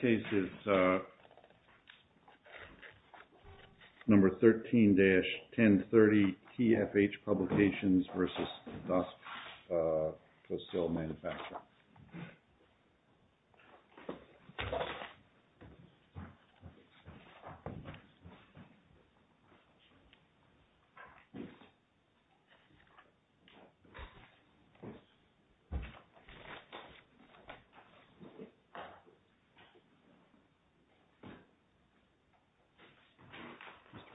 Case is number 13-1030, TFH Publications versus Dusk Coast Sale Manufacturer.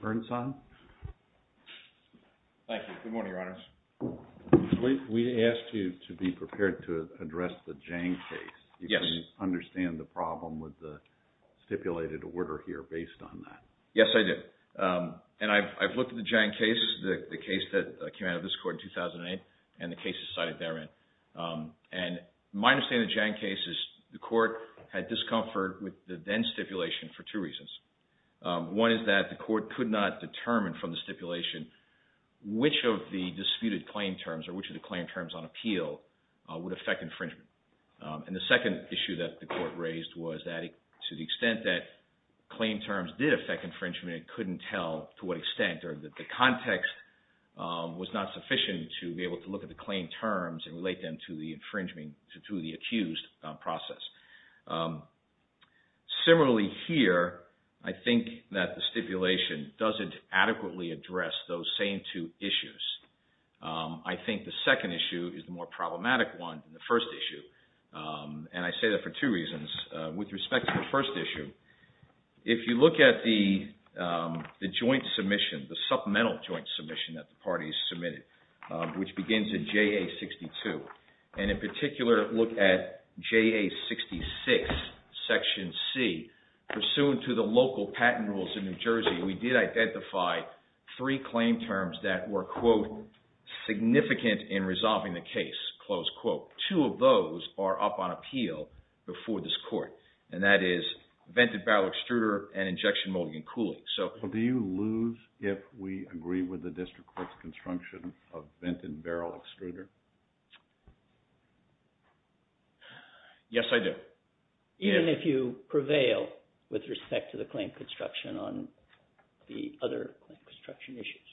Mr. Bernstein. Thank you. Good morning, Your Honors. We asked you to be prepared to address the Jang case. Yes. Do you understand the problem with the stipulated order here based on that? Yes, I do. And I've looked at the Jang case, the case that came out of this court in 2008, and the cases cited therein. And my understanding of the Jang case is the court had discomfort with the then stipulation for two reasons. One is that the court could not determine from the stipulation which of the disputed claim terms or which of the claim terms on appeal would affect infringement. And the second issue that the court raised was that to the extent that claim terms did affect infringement, it couldn't tell to what extent or that the context was not sufficient to be able to look at the claim terms and relate them to the infringement, to the accused process. Similarly here, I think that the stipulation doesn't adequately address those same two issues. I think the second issue is the more problematic one than the first issue. And I say that for two reasons. With respect to the first issue, if you look at the joint submission, the supplemental joint submission that the parties submitted, which begins in JA-62, and in particular look at JA-66, Section C, pursuant to the local patent rules in New Jersey, we did identify three claim terms that were, quote, and that is vented barrel extruder and injection molding and cooling. Do you lose if we agree with the district court's construction of vented barrel extruder? Yes, I do. Even if you prevail with respect to the claim construction on the other construction issues?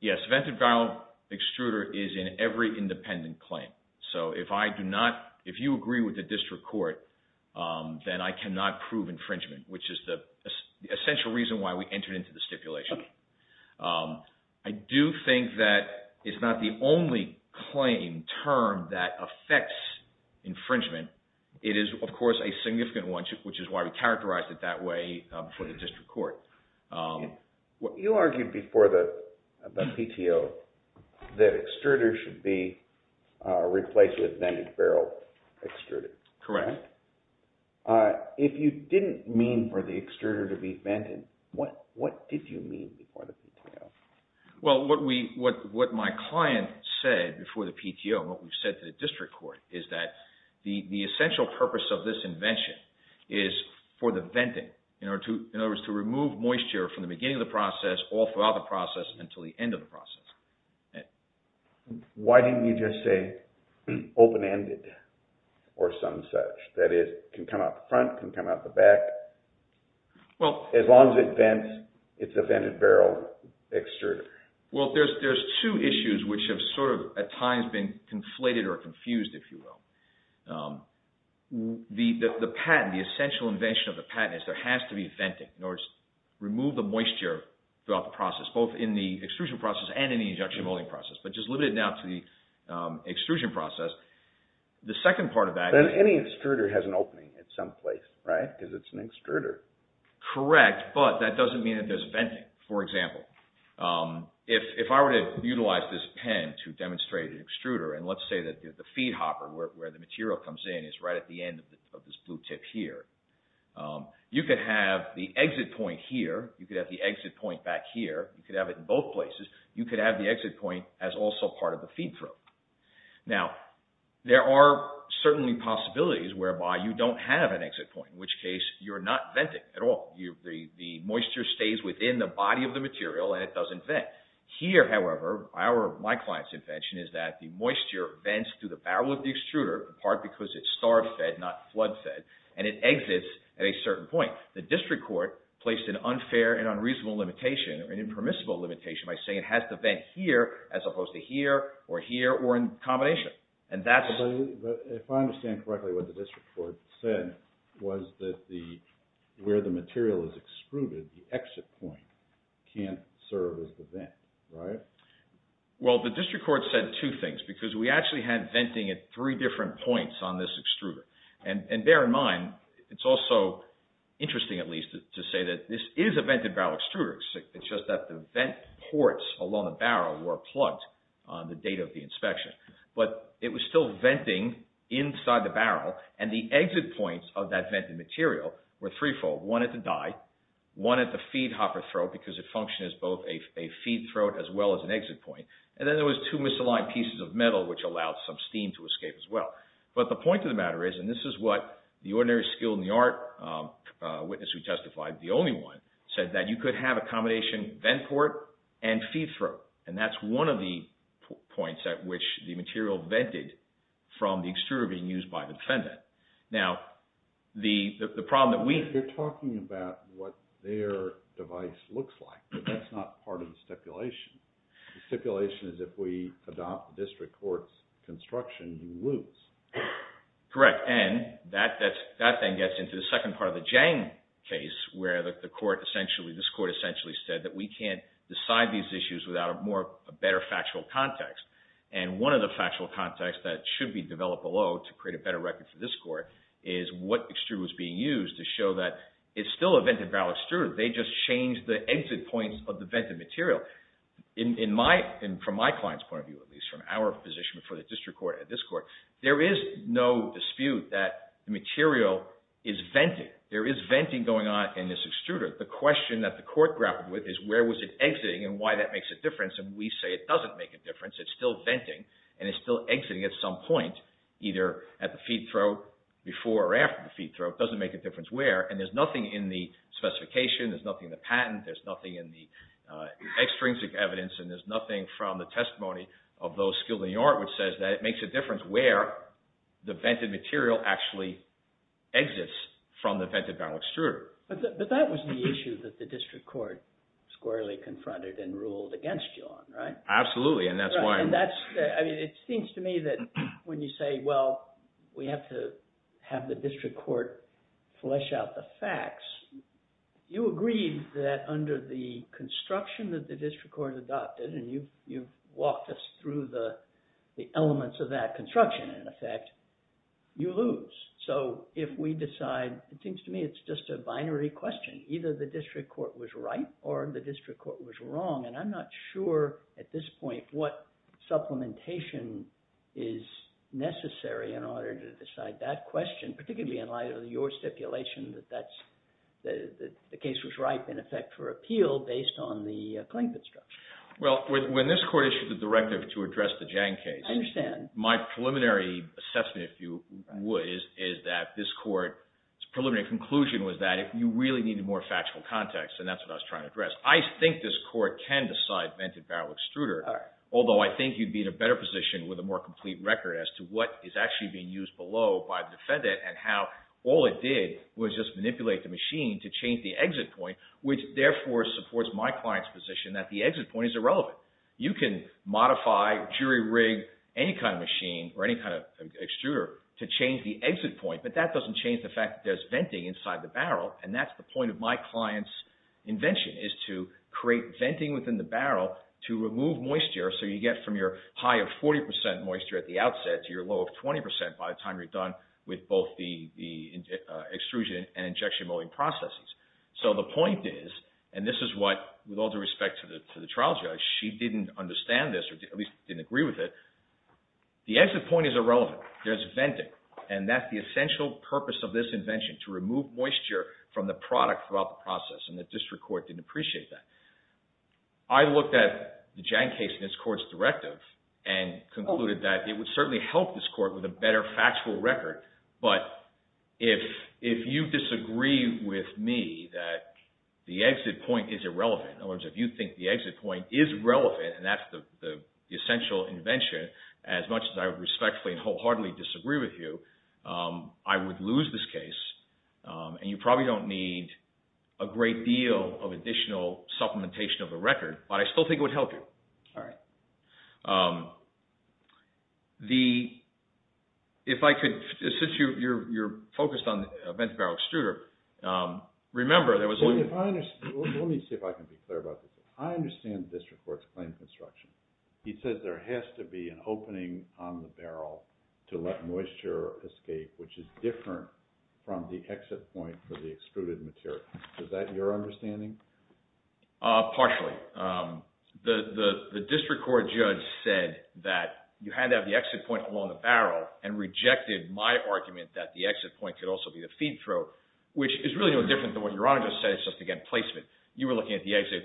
Yes, vented barrel extruder is in every independent claim. So if you agree with the district court, then I cannot prove infringement, which is the essential reason why we entered into the stipulation. I do think that it's not the only claim term that affects infringement. It is, of course, a significant one, which is why we characterized it that way for the district court. You argued before the PTO that extruders should be replaced with vented barrel extruders. Correct. If you didn't mean for the extruder to be vented, what did you mean before the PTO? Well, what my client said before the PTO, what we've said to the district court, is that the essential purpose of this invention is for the venting. In other words, to remove moisture from the beginning of the process, all throughout the process, until the end of the process. Why didn't you just say open-ended or some such? That is, it can come out the front, it can come out the back. As long as it vents, it's a vented barrel extruder. Well, there's two issues which have at times been conflated or confused, if you will. The patent, the essential invention of the patent is there has to be venting in order to remove the moisture throughout the process, both in the extrusion process and in the injection molding process. But just limit it now to the extrusion process. Then any extruder has an opening at some place, right? Because it's an extruder. Correct, but that doesn't mean it does venting. For example, if I were to utilize this pen to demonstrate an extruder, and let's say that the feed hopper, where the material comes in, is right at the end of this blue tip here, you could have the exit point here, you could have the exit point back here, you could have it in both places. You could have the exit point as also part of the feed throat. Now, there are certainly possibilities whereby you don't have an exit point, in which case you're not venting at all. The moisture stays within the body of the material and it doesn't vent. Here, however, my client's invention is that the moisture vents through the barrel of the extruder, in part because it's starved-fed, not flood-fed, and it exits at a certain point. The district court placed an unfair and unreasonable limitation, an impermissible limitation by saying it has to vent here, as opposed to here or here or in combination. If I understand correctly, what the district court said was that where the material is extruded, the exit point can't serve as the vent, right? Well, the district court said two things, because we actually had venting at three different points on this extruder. And bear in mind, it's also interesting, at least, to say that this is a vented-barrel extruder. It's just that the vent ports along the barrel were plugged on the date of the inspection. But it was still venting inside the barrel, and the exit points of that vented material were threefold. One at the die, one at the feed hopper throat, because it functioned as both a feed throat as well as an exit point. And then there was two misaligned pieces of metal, which allowed some steam to escape as well. But the point of the matter is, and this is what the ordinary skilled in the art witness who testified, the only one, said that you could have a combination vent port and feed throat. And that's one of the points at which the material vented from the extruder being used by the defendant. Now, the problem that we... You're talking about what their device looks like, but that's not part of the stipulation. The stipulation is if we adopt the district court's construction, you lose. Correct, and that then gets into the second part of the Jang case, where this court essentially said that we can't decide these issues without a better factual context. And one of the factual contexts that should be developed below to create a better record for this court is what extruder was being used to show that it's still a vented barrel extruder. They just changed the exit points of the vented material. From my client's point of view, at least, from our position before the district court and this court, there is no dispute that the material is venting. There is venting going on in this extruder. The question that the court grappled with is where was it exiting and why that makes a difference. And we say it doesn't make a difference. It's still venting and it's still exiting at some point, either at the feed throat before or after the feed throat. It doesn't make a difference where. And there's nothing in the specification. There's nothing in the patent. There's nothing in the extrinsic evidence, and there's nothing from the testimony of those skilled in the art which says that it makes a difference where the vented material actually exits from the vented barrel extruder. But that was the issue that the district court squarely confronted and ruled against you on, right? Absolutely, and that's why. It seems to me that when you say, well, we have to have the district court flesh out the facts, you agreed that under the construction that the district court adopted, and you've walked us through the elements of that construction, in effect, you lose. So if we decide, it seems to me it's just a binary question. Either the district court was right or the district court was wrong, and I'm not sure at this point what supplementation is necessary in order to decide that question, particularly in light of your stipulation that the case was ripe, in effect, for appeal based on the plaintiff structure. Well, when this court issued the directive to address the Jang case, my preliminary assessment, if you would, is that this court's preliminary conclusion was that you really needed more factual context, and that's what I was trying to address. I think this court can decide vented barrel extruder, although I think you'd be in a better position with a more complete record as to what is actually being used below by the defendant and how all it did was just manipulate the machine to change the exit point, which therefore supports my client's position that the exit point is irrelevant. You can modify, jury rig any kind of machine or any kind of extruder to change the exit point, but that doesn't change the fact that there's venting inside the barrel, and that's the point of my client's invention is to create venting within the barrel to remove moisture so you get from your high of 40% moisture at the outset to your low of 20% by the time you're done with both the extrusion and injection molding processes. So the point is, and this is what, with all due respect to the trial judge, she didn't understand this or at least didn't agree with it, the exit point is irrelevant. There's venting, and that's the essential purpose of this invention, to remove moisture from the product throughout the process, and the district court didn't appreciate that. I looked at the Jang case in this court's directive and concluded that it would certainly help this court with a better factual record, but if you disagree with me that the exit point is irrelevant, in other words, if you think the exit point is relevant, and that's the essential invention, as much as I respectfully and wholeheartedly disagree with you, I would lose this case, and you probably don't need a great deal of additional supplementation of the record, but I still think it would help you. If I could, since you're focused on the vent-to-barrel extruder, remember there was... Let me see if I can be clear about this. I understand the district court's plain construction. It says there has to be an opening on the barrel to let moisture escape, which is different from the exit point for the extruded material. Is that your understanding? Partially. The district court judge said that you had to have the exit point along the barrel and rejected my argument that the exit point could also be the feed throat, which is really no different than what Your Honor just said. It's just, again, placement. You were looking at the exit.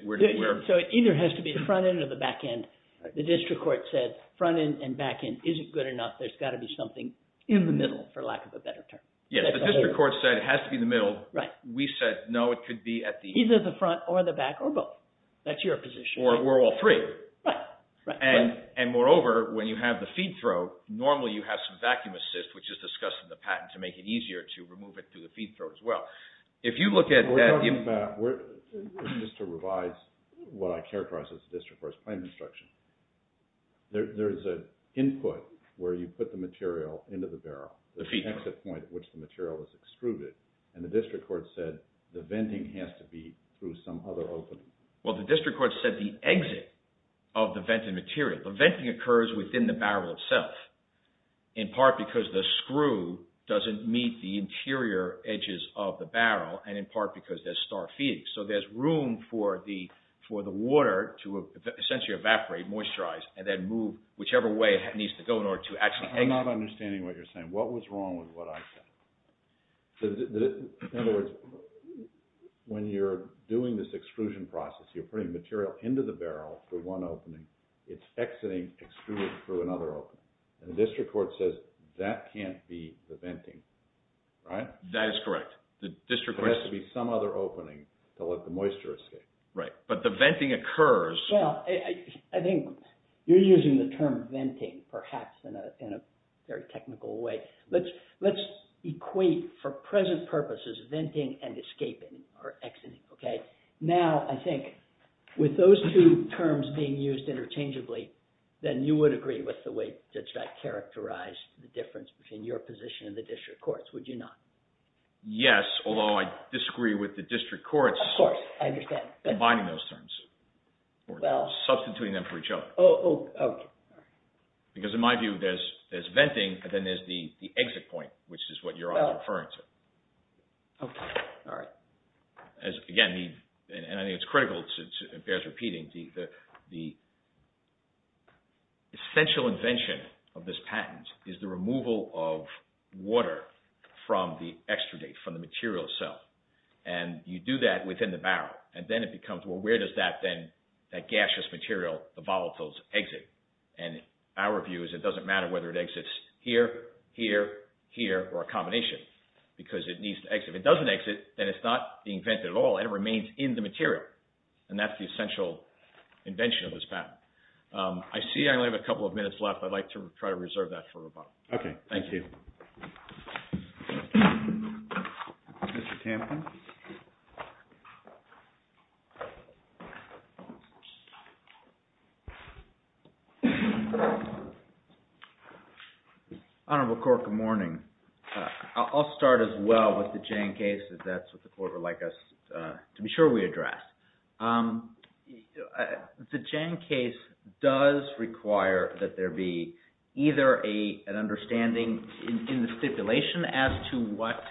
So it either has to be the front end or the back end. The district court said front end and back end isn't good enough. There's got to be something in the middle, for lack of a better term. Yes, the district court said it has to be the middle. Right. We said no, it could be at the... Either the front or the back or both. That's your position. Or we're all three. Right. And moreover, when you have the feed throat, normally you have some vacuum assist, which is discussed in the patent, to make it easier to remove it through the feed throat as well. If you look at... We're talking about, just to revise what I characterized as the district court's claim instruction, there's an input where you put the material into the barrel, the exit point at which the material is extruded, and the district court said the venting has to be through some other opening. Well, the district court said the exit of the vented material. The venting occurs within the barrel itself, in part because the screw doesn't meet the interior edges of the barrel, and in part because there's star feeding. So there's room for the water to essentially evaporate, moisturize, and then move whichever way it needs to go in order to actually exit. I'm not understanding what you're saying. What was wrong with what I said? In other words, when you're doing this extrusion process, you're putting material into the barrel through one opening, it's exiting, extruding through another opening. And the district court says that can't be the venting, right? That is correct. There has to be some other opening to let the moisture escape. Right, but the venting occurs. Well, I think you're using the term venting, perhaps, in a very technical way. Let's equate, for present purposes, venting and escaping, or exiting. Now, I think with those two terms being used interchangeably, then you would agree with the way Judge Guy characterized the difference between your position and the district court's, would you not? Yes, although I disagree with the district court's combining those terms or substituting them for each other. Oh, okay. Because in my view, there's venting, and then there's the exit point, which is what you're referring to. Okay, all right. Again, and I think it's critical, it bears repeating, the essential invention of this patent is the removal of water from the extradate, from the material itself. And you do that within the barrel, and then it becomes, well, where does that gaseous material, the volatiles, exit? And our view is it doesn't matter whether it exits here, here, here, or a combination, because it needs to exit. If it doesn't exit, then it's not being vented at all, and it remains in the material. And that's the essential invention of this patent. I see I only have a couple of minutes left. I'd like to try to reserve that for Robach. Okay. Thank you. Mr. Tampkin. Honorable Court, good morning. I'll start as well with the Jane case, because that's what the Court would like us to be sure we address. The Jane case does require that there be either an understanding in the stipulation as to what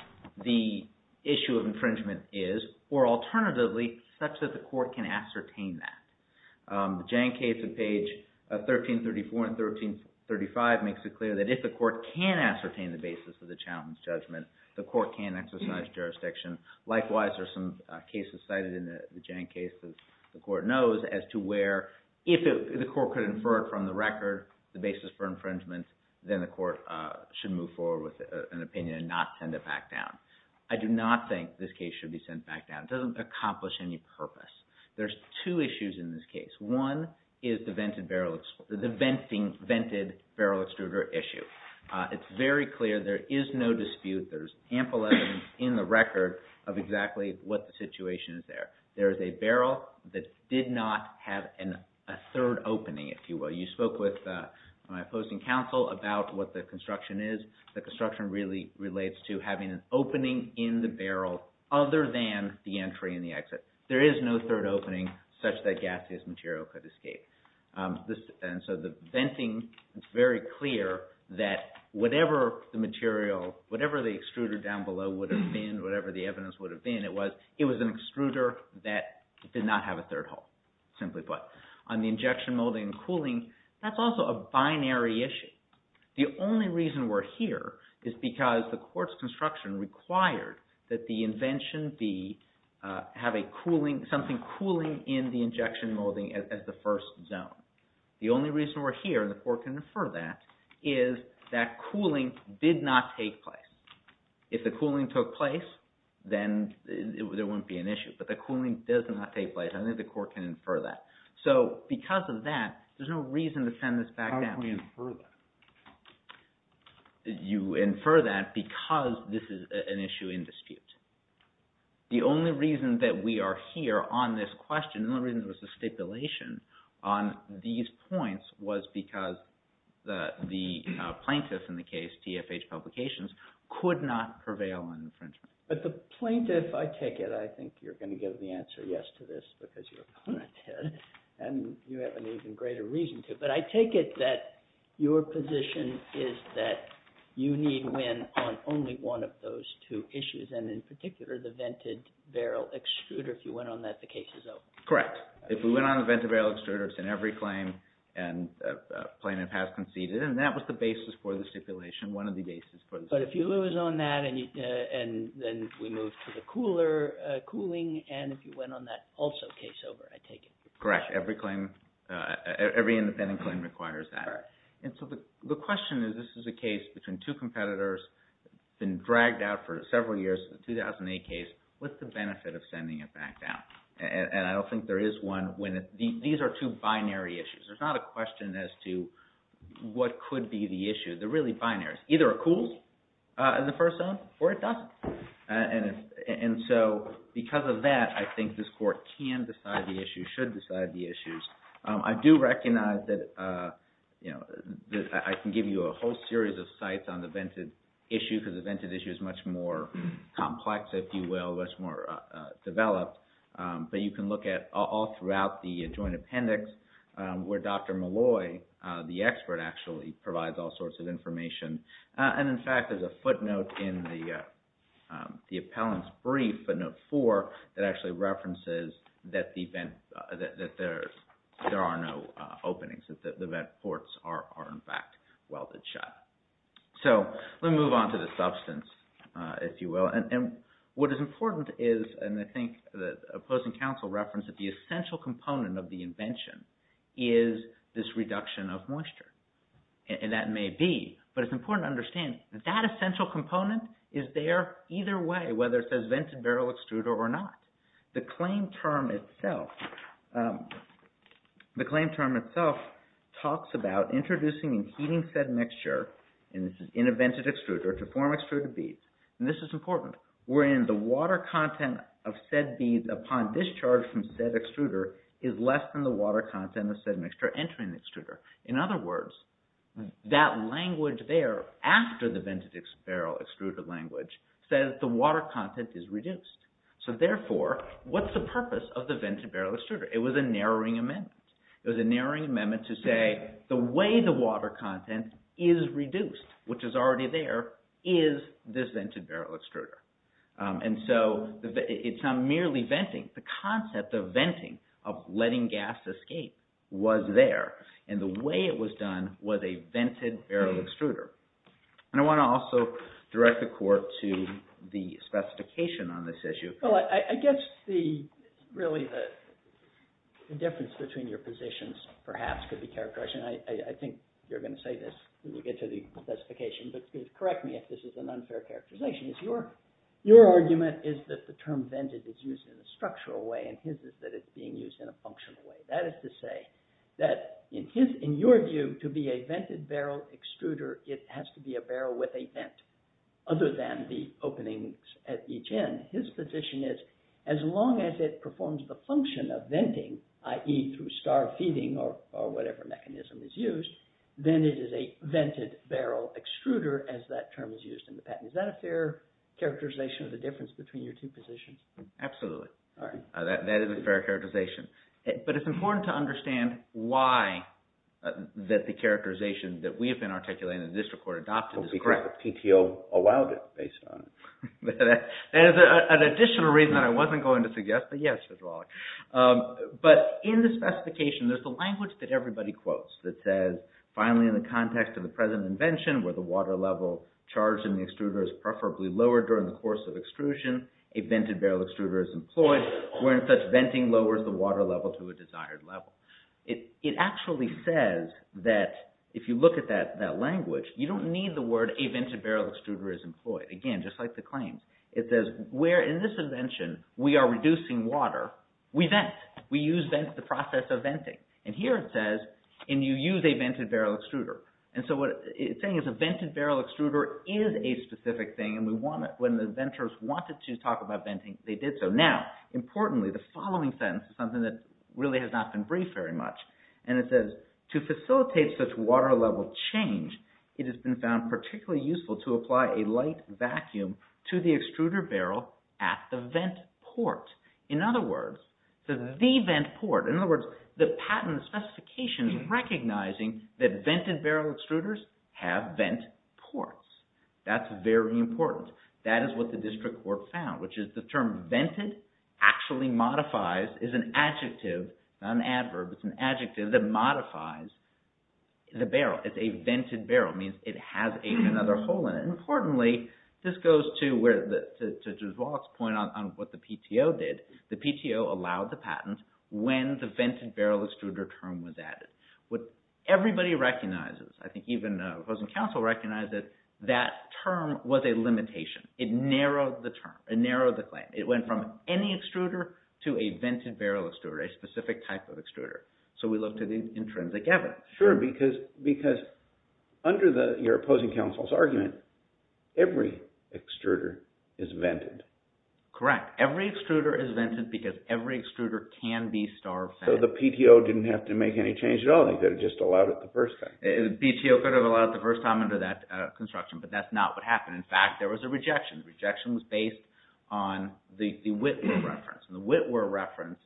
the issue of infringement is, or alternatively, such that the Court can ascertain that. The Jane case at page 1334 and 1335 makes it clear that if the Court can ascertain the basis of the challenge judgment, the Court can exercise jurisdiction. Likewise, there are some cases cited in the Jane case that the Court knows as to where, if the Court could infer from the record the basis for infringement, then the Court should move forward with an opinion and not send it back down. I do not think this case should be sent back down. It doesn't accomplish any purpose. There's two issues in this case. One is the vented barrel extruder issue. It's very clear there is no dispute. There's ample evidence in the record of exactly what the situation is there. There is a barrel that did not have a third opening, if you will. You spoke with my opposing counsel about what the construction is. The construction really relates to having an opening in the barrel other than the entry and the exit. There is no third opening such that gaseous material could escape. The venting is very clear that whatever the material, whatever the extruder down below would have been, whatever the evidence would have been, it was an extruder that did not have a third hole, simply put. On the injection molding and cooling, that's also a binary issue. The only reason we're here is because the Court's construction required that the invention be something cooling in the injection molding as the first zone. The only reason we're here, and the Court can infer that, is that cooling did not take place. If the cooling took place, then there wouldn't be an issue. But the cooling does not take place. I think the Court can infer that. So because of that, there's no reason to send this back down. How do you infer that? You infer that because this is an issue in dispute. The only reason that we are here on this question, and the only reason there was a stipulation on these points, was because the plaintiff in the case, T.F.H. Publications, could not prevail on infringement. But the plaintiff, I take it, I think you're going to give the answer yes to this because you're a punitive, and you have an even greater reason to. But I take it that your position is that you need win on only one of those two issues, and in particular, the vented barrel extruder. If you win on that, the case is over. Correct. If we win on the vented barrel extruder, it's in every claim, and the plaintiff has conceded. And that was the basis for the stipulation, one of the bases for the stipulation. But if you lose on that, and then we move to the cooler, cooling, and if you win on that, also case over, I take it. Correct. Every claim, every independent claim requires that. And so the question is, this is a case between two competitors, been dragged out for several years, a 2008 case. What's the benefit of sending it back down? And I don't think there is one. These are two binary issues. There's not a question as to what could be the issue. They're really binaries. Either it cools in the first zone, or it doesn't. And so because of that, I think this court can decide the issue, should decide the issues. I do recognize that I can give you a whole series of sites on the vented issue because the vented issue is much more complex, if you will, much more developed. But you can look at all throughout the joint appendix, where Dr. Malloy, the expert, actually provides all sorts of information. And in fact, there's a footnote in the appellant's brief, footnote four, that actually references that there are no openings, that the vent ports are, in fact, welded shut. So let me move on to the substance, if you will. And what is important is, and I think the opposing counsel referenced, that the essential component of the invention is this reduction of moisture. And that may be, but it's important to understand that that essential component is there either way, whether it says vented barrel extruder or not. The claim term itself talks about introducing and heating said mixture, and this is in a vented extruder, to form extruded beads. And this is important. We're in the water content of said beads upon discharge from said extruder is less than the water content of said mixture entering the extruder. In other words, that language there, after the vented barrel extruder language, says the water content is reduced. So therefore, what's the purpose of the vented barrel extruder? It was a narrowing amendment. It was a narrowing amendment to say the way the water content is reduced, which is already there, is this vented barrel extruder. And so it's not merely venting. The concept of venting, of letting gas escape, was there. And the way it was done was a vented barrel extruder. And I want to also direct the Court to the specification on this issue. Well, I guess really the difference between your positions perhaps could be characterized, and I think you're going to say this when we get to the specification, but correct me if this is an unfair characterization. Your argument is that the term vented is used in a structural way and his is that it's being used in a functional way. That is to say that in your view, to be a vented barrel extruder, it has to be a barrel with a vent other than the openings at each end. His position is as long as it performs the function of venting, i.e. through star feeding or whatever mechanism is used, then it is a vented barrel extruder as that term is used in the patent. Is that a fair characterization of the difference between your two positions? Absolutely. That is a fair characterization. But it's important to understand why that the characterization that we have been articulating and the District Court adopted is correct. Because the PTO allowed it based on it. That is an additional reason I wasn't going to suggest, but yes, it's wrong. But in the specification, there's a language that everybody quotes that says, finally in the context of the present invention where the water level charged in the extruder is preferably lower during the course of extrusion, a vented barrel extruder is employed, wherein such venting lowers the water level to a desired level. It actually says that if you look at that language, you don't need the word a vented barrel extruder is employed. Again, just like the claims. It says where in this invention we are reducing water, we vent. We use the process of venting. And here it says, and you use a vented barrel extruder. And so what it's saying is a vented barrel extruder is a specific thing and when the venters wanted to talk about venting, they did so. Now, importantly, the following sentence is something that really has not been briefed very much. And it says, to facilitate such water level change, it has been found particularly useful to apply a light vacuum to the extruder barrel at the vent port. In other words, the vent port. In other words, the patent specification is recognizing that vented barrel extruders have vent ports. That's very important. That is what the district court found, which is the term vented actually modifies, is an adjective, not an adverb. It's an adjective that modifies the barrel. It's a vented barrel. It means it has another hole in it. Importantly, this goes to where, to Juzwal's point on what the PTO did. The PTO allowed the patent when the vented barrel extruder term was added. What everybody recognizes, I think even the opposing counsel recognized that that term was a limitation. It narrowed the claim. It went from any extruder to a vented barrel extruder, a specific type of extruder. So we looked at the intrinsic evidence. Sure, because under your opposing counsel's argument, every extruder is vented. Correct. Every extruder is vented because every extruder can be starved. So the PTO didn't have to make any change at all. They could have just allowed it the first time. The PTO could have allowed it the first time under that construction, but that's not what happened. In fact, there was a rejection. The rejection was based on the Witwer reference. The Witwer reference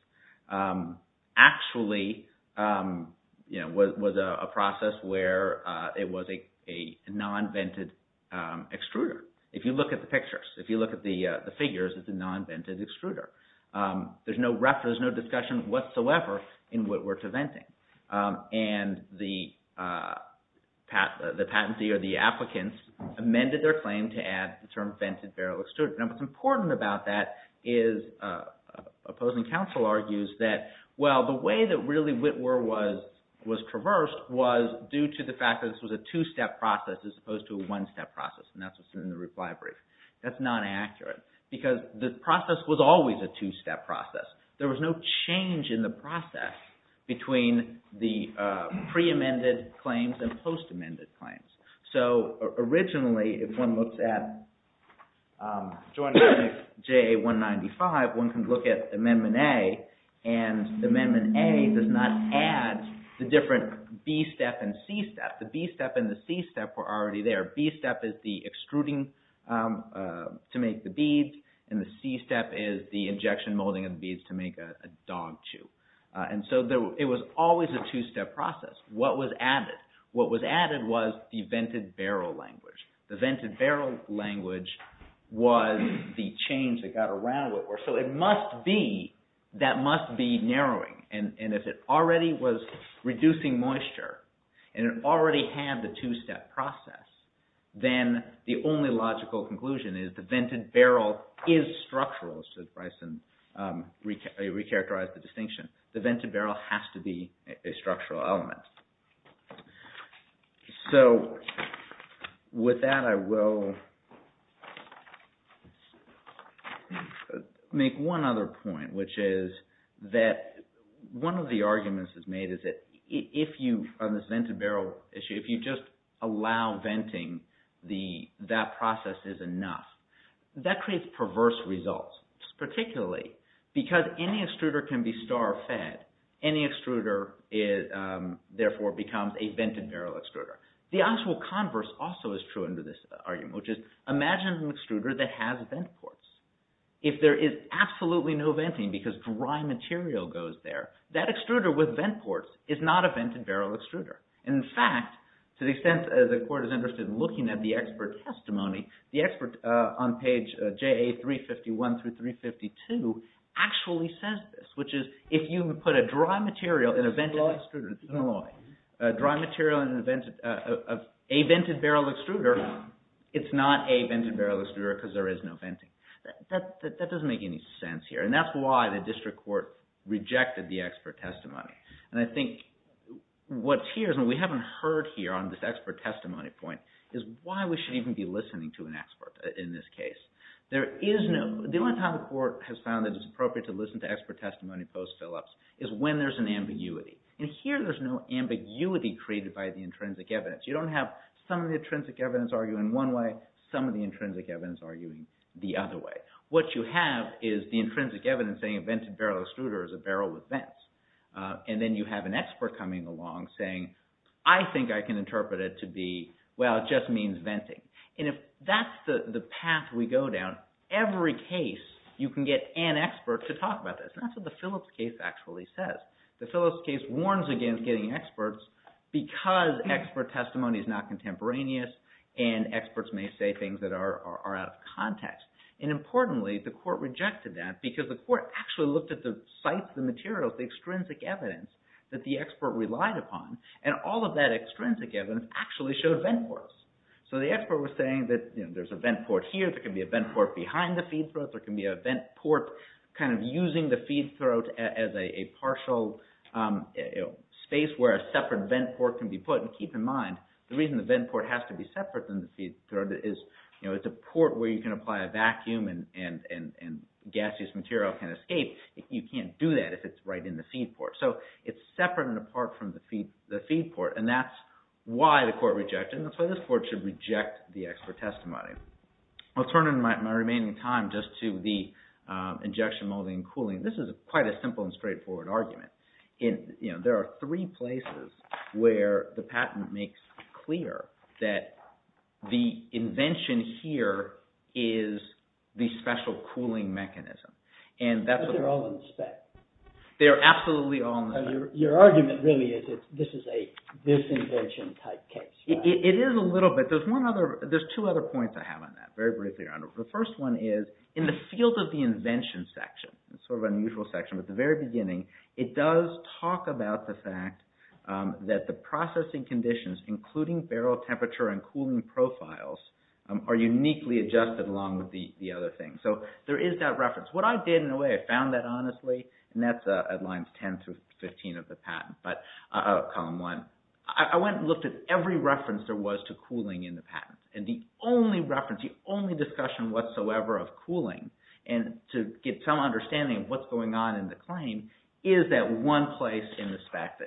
actually was a process where it was a non-vented extruder. If you look at the pictures, if you look at the figures, it's a non-vented extruder. There's no reference, no discussion whatsoever in Witwer to venting. And the patentee or the applicants amended their claim to add the term vented barrel extruder. Now, what's important about that is opposing counsel argues that, well, the way that really Witwer was traversed was due to the fact that this was a two-step process as opposed to a one-step process, and that's what's in the reply brief. That's not accurate because the process was always a two-step process. There was no change in the process between the pre-amended claims and post-amended claims. So, originally, if one looks at Joint Amendment J195, one can look at Amendment A, and Amendment A does not add the different B-step and C-step. The B-step and the C-step were already there. B-step is the extruding to make the beads, and the C-step is the injection molding of the beads to make a dog chew. So, it was always a two-step process. What was added? What was added was the vented barrel language. The vented barrel language was the change that got around Witwer. So, that must be narrowing, and if it already was reducing moisture, and it already had the two-step process, then the only logical conclusion is the vented barrel is structural. Bryson re-characterized the distinction. The vented barrel has to be a structural element. So, with that, I will make one other point, which is that one of the arguments that's made is that if you, on this vented barrel issue, if you just allow venting, that process is enough. That creates perverse results, particularly because any extruder can be star fed. Any extruder, therefore, becomes a vented barrel extruder. The actual converse also is true under this argument, which is imagine an extruder that has vent ports. If there is absolutely no venting because dry material goes there, that extruder with vent ports is not a vented barrel extruder. In fact, to the extent the court is interested in looking at the expert testimony, the expert on page JA 351 through 352 actually says this, which is if you put a dry material in a vented extruder, a dry material in a vented barrel extruder, it's not a vented barrel extruder because there is no venting. That doesn't make any sense here, and that's why the district court rejected the expert testimony. I think what's here, and we haven't heard here on this expert testimony point, is why we should even be listening to an expert in this case. The only time the court has found that it's appropriate to listen to expert testimony post Phillips is when there's an ambiguity. Here, there's no ambiguity created by the intrinsic evidence. You don't have some of the intrinsic evidence arguing one way, some of the intrinsic evidence arguing the other way. What you have is the intrinsic evidence saying a vented barrel extruder is a barrel with vents, and then you have an expert coming along saying, I think I can interpret it to be, well, it just means venting. If that's the path we go down, every case you can get an expert to talk about this. That's what the Phillips case actually says. The Phillips case warns against getting experts because expert testimony is not contemporaneous and experts may say things that are out of context. Importantly, the court rejected that because the court actually looked at the sites, the materials, the extrinsic evidence that the expert relied upon, and all of that extrinsic evidence actually showed vent ports. The expert was saying that there's a vent port here. There can be a vent port behind the feed throat. There can be a vent port kind of using the feed throat as a partial space where a separate vent port can be put. Keep in mind, the reason the vent port has to be separate than the feed throat is it's a port where you can apply a vacuum and gaseous material can escape. You can't do that if it's right in the feed port. So it's separate and apart from the feed port, and that's why the court rejected it, and that's why this court should reject the expert testimony. I'll turn in my remaining time just to the injection molding and cooling. This is quite a simple and straightforward argument. There are three places where the patent makes clear that the invention here is the special cooling mechanism. They're all in the spec. They're absolutely all in the spec. Your argument really is that this is a disinvention type case. It is a little bit. There's two other points I have on that, very briefly. The first one is in the field of the invention section, sort of unusual section, but the very beginning, it does talk about the fact that the processing conditions, including barrel temperature and cooling profiles, are uniquely adjusted along with the other things. So there is that reference. What I did, in a way, I found that honestly, and that's at lines 10 through 15 of the patent, column one. I went and looked at every reference there was to cooling in the patent, and the only reference, the only discussion whatsoever of cooling, and to get some understanding of what's going on in the claim, is that one place in the spec.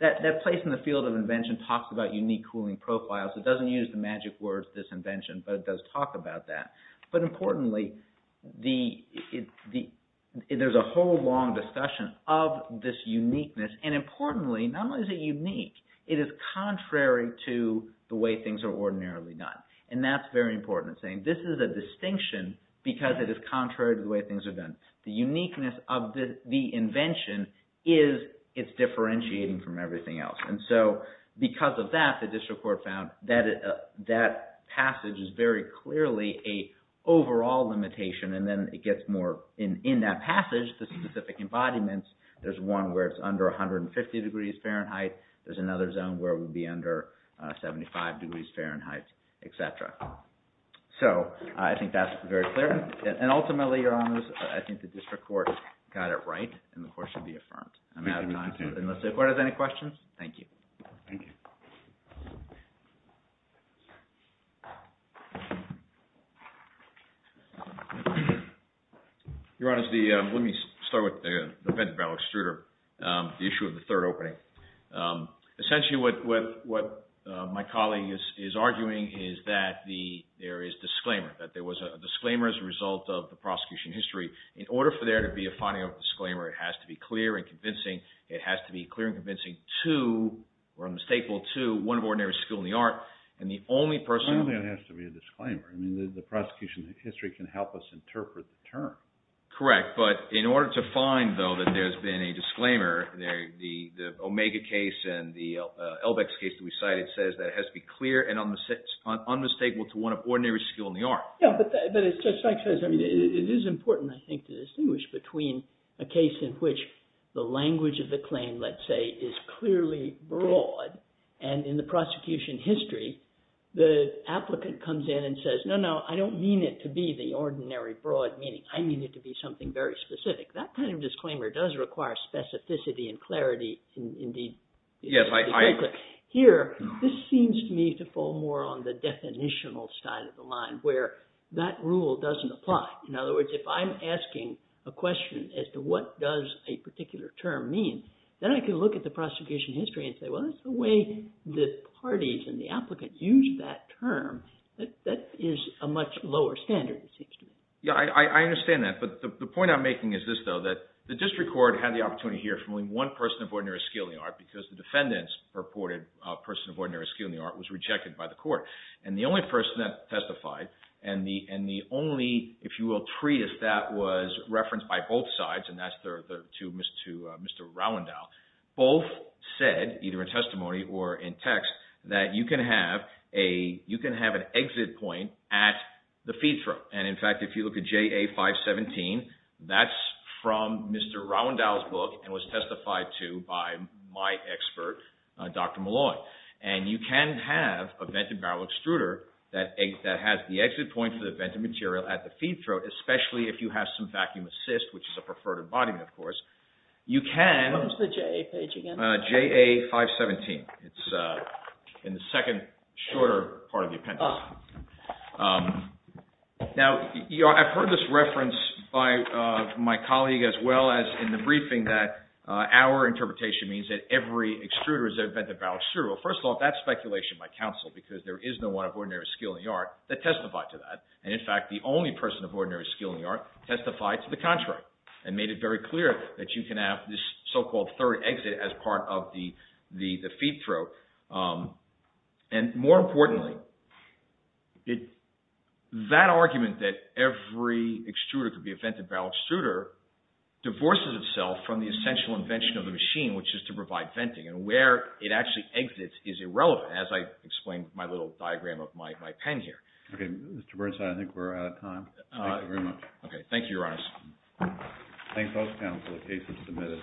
That place in the field of invention talks about unique cooling profiles. It doesn't use the magic words disinvention, but it does talk about that. But importantly, there's a whole long discussion of this uniqueness, and importantly, not only is it unique, it is contrary to the way things are ordinarily done, and that's very important. This is a distinction because it is contrary to the way things are done. The uniqueness of the invention is it's differentiating from everything else, and so because of that, the district court found that passage is very clearly an overall limitation, and then it gets more. In that passage, the specific embodiments, there's one where it's under 150 degrees Fahrenheit. There's another zone where it would be under 75 degrees Fahrenheit, etc. So I think that's very clear, and ultimately, Your Honors, I think the district court got it right, and the court should be affirmed. I'm out of time, unless the court has any questions. Thank you. Thank you. Your Honors, let me start with the event about extruder, the issue of the third opening. Essentially, what my colleague is arguing is that there is disclaimer, that there was a disclaimer as a result of the prosecution history. In order for there to be a finding of a disclaimer, it has to be clear and convincing. It has to be clear and convincing to, or unmistakable to, one of ordinary school in the art, and the only person… It has to be a disclaimer. I mean, the prosecution history can help us interpret the term. Correct, but in order to find, though, that there's been a disclaimer, the Omega case and the LBEX case that we cited says that it has to be clear and unmistakable to one of ordinary school in the art. Yeah, but as Judge Sykes says, it is important, I think, to distinguish between a case in which the language of the claim, let's say, is clearly broad, and in the prosecution history, the applicant comes in and says, no, no, I don't mean it to be the ordinary broad meaning. I mean it to be something very specific. That kind of disclaimer does require specificity and clarity. Here, this seems to me to fall more on the definitional side of the line where that rule doesn't apply. In other words, if I'm asking a question as to what does a particular term mean, then I can look at the prosecution history and say, well, that's the way the parties and the applicant used that term. That is a much lower standard, it seems to me. Yeah, I understand that, but the point I'm making is this, though, that the district court had the opportunity to hear from only one person of ordinary skill in the art because the defendant's purported person of ordinary skill in the art was rejected by the court, and the only person that testified and the only, if you will, treatise that was referenced by both sides, and that's to Mr. Rowandow, both said, either in testimony or in text, that you can have an exit point at the feed throat. In fact, if you look at JA 517, that's from Mr. Rowandow's book and was testified to by my expert, Dr. Malloy, and you can have a vented barrel extruder that has the exit point for the vented material at the feed throat, especially if you have some vacuum assist, which is a preferred embodiment, of course. You can… What was the JA page again? JA 517. It's in the second shorter part of the appendix. Now, I've heard this reference by my colleague as well as in the briefing that our interpretation means that every extruder is a vented barrel extruder. Well, first of all, that's speculation by counsel because there is no one of ordinary skill in the art that testified to that, and in fact, the only person of ordinary skill in the art testified to the contrary and made it very clear that you can have this so-called third exit as part of the feed throat. And more importantly, that argument that every extruder could be a vented barrel extruder divorces itself from the essential invention of the machine, which is to provide venting, and where it actually exits is irrelevant, as I explained with my little diagram of my pen here. Okay. Mr. Bernstein, I think we're out of time. Thank you very much. Okay. Thank you, Your Honor. Thank both counsel. The case is submitted.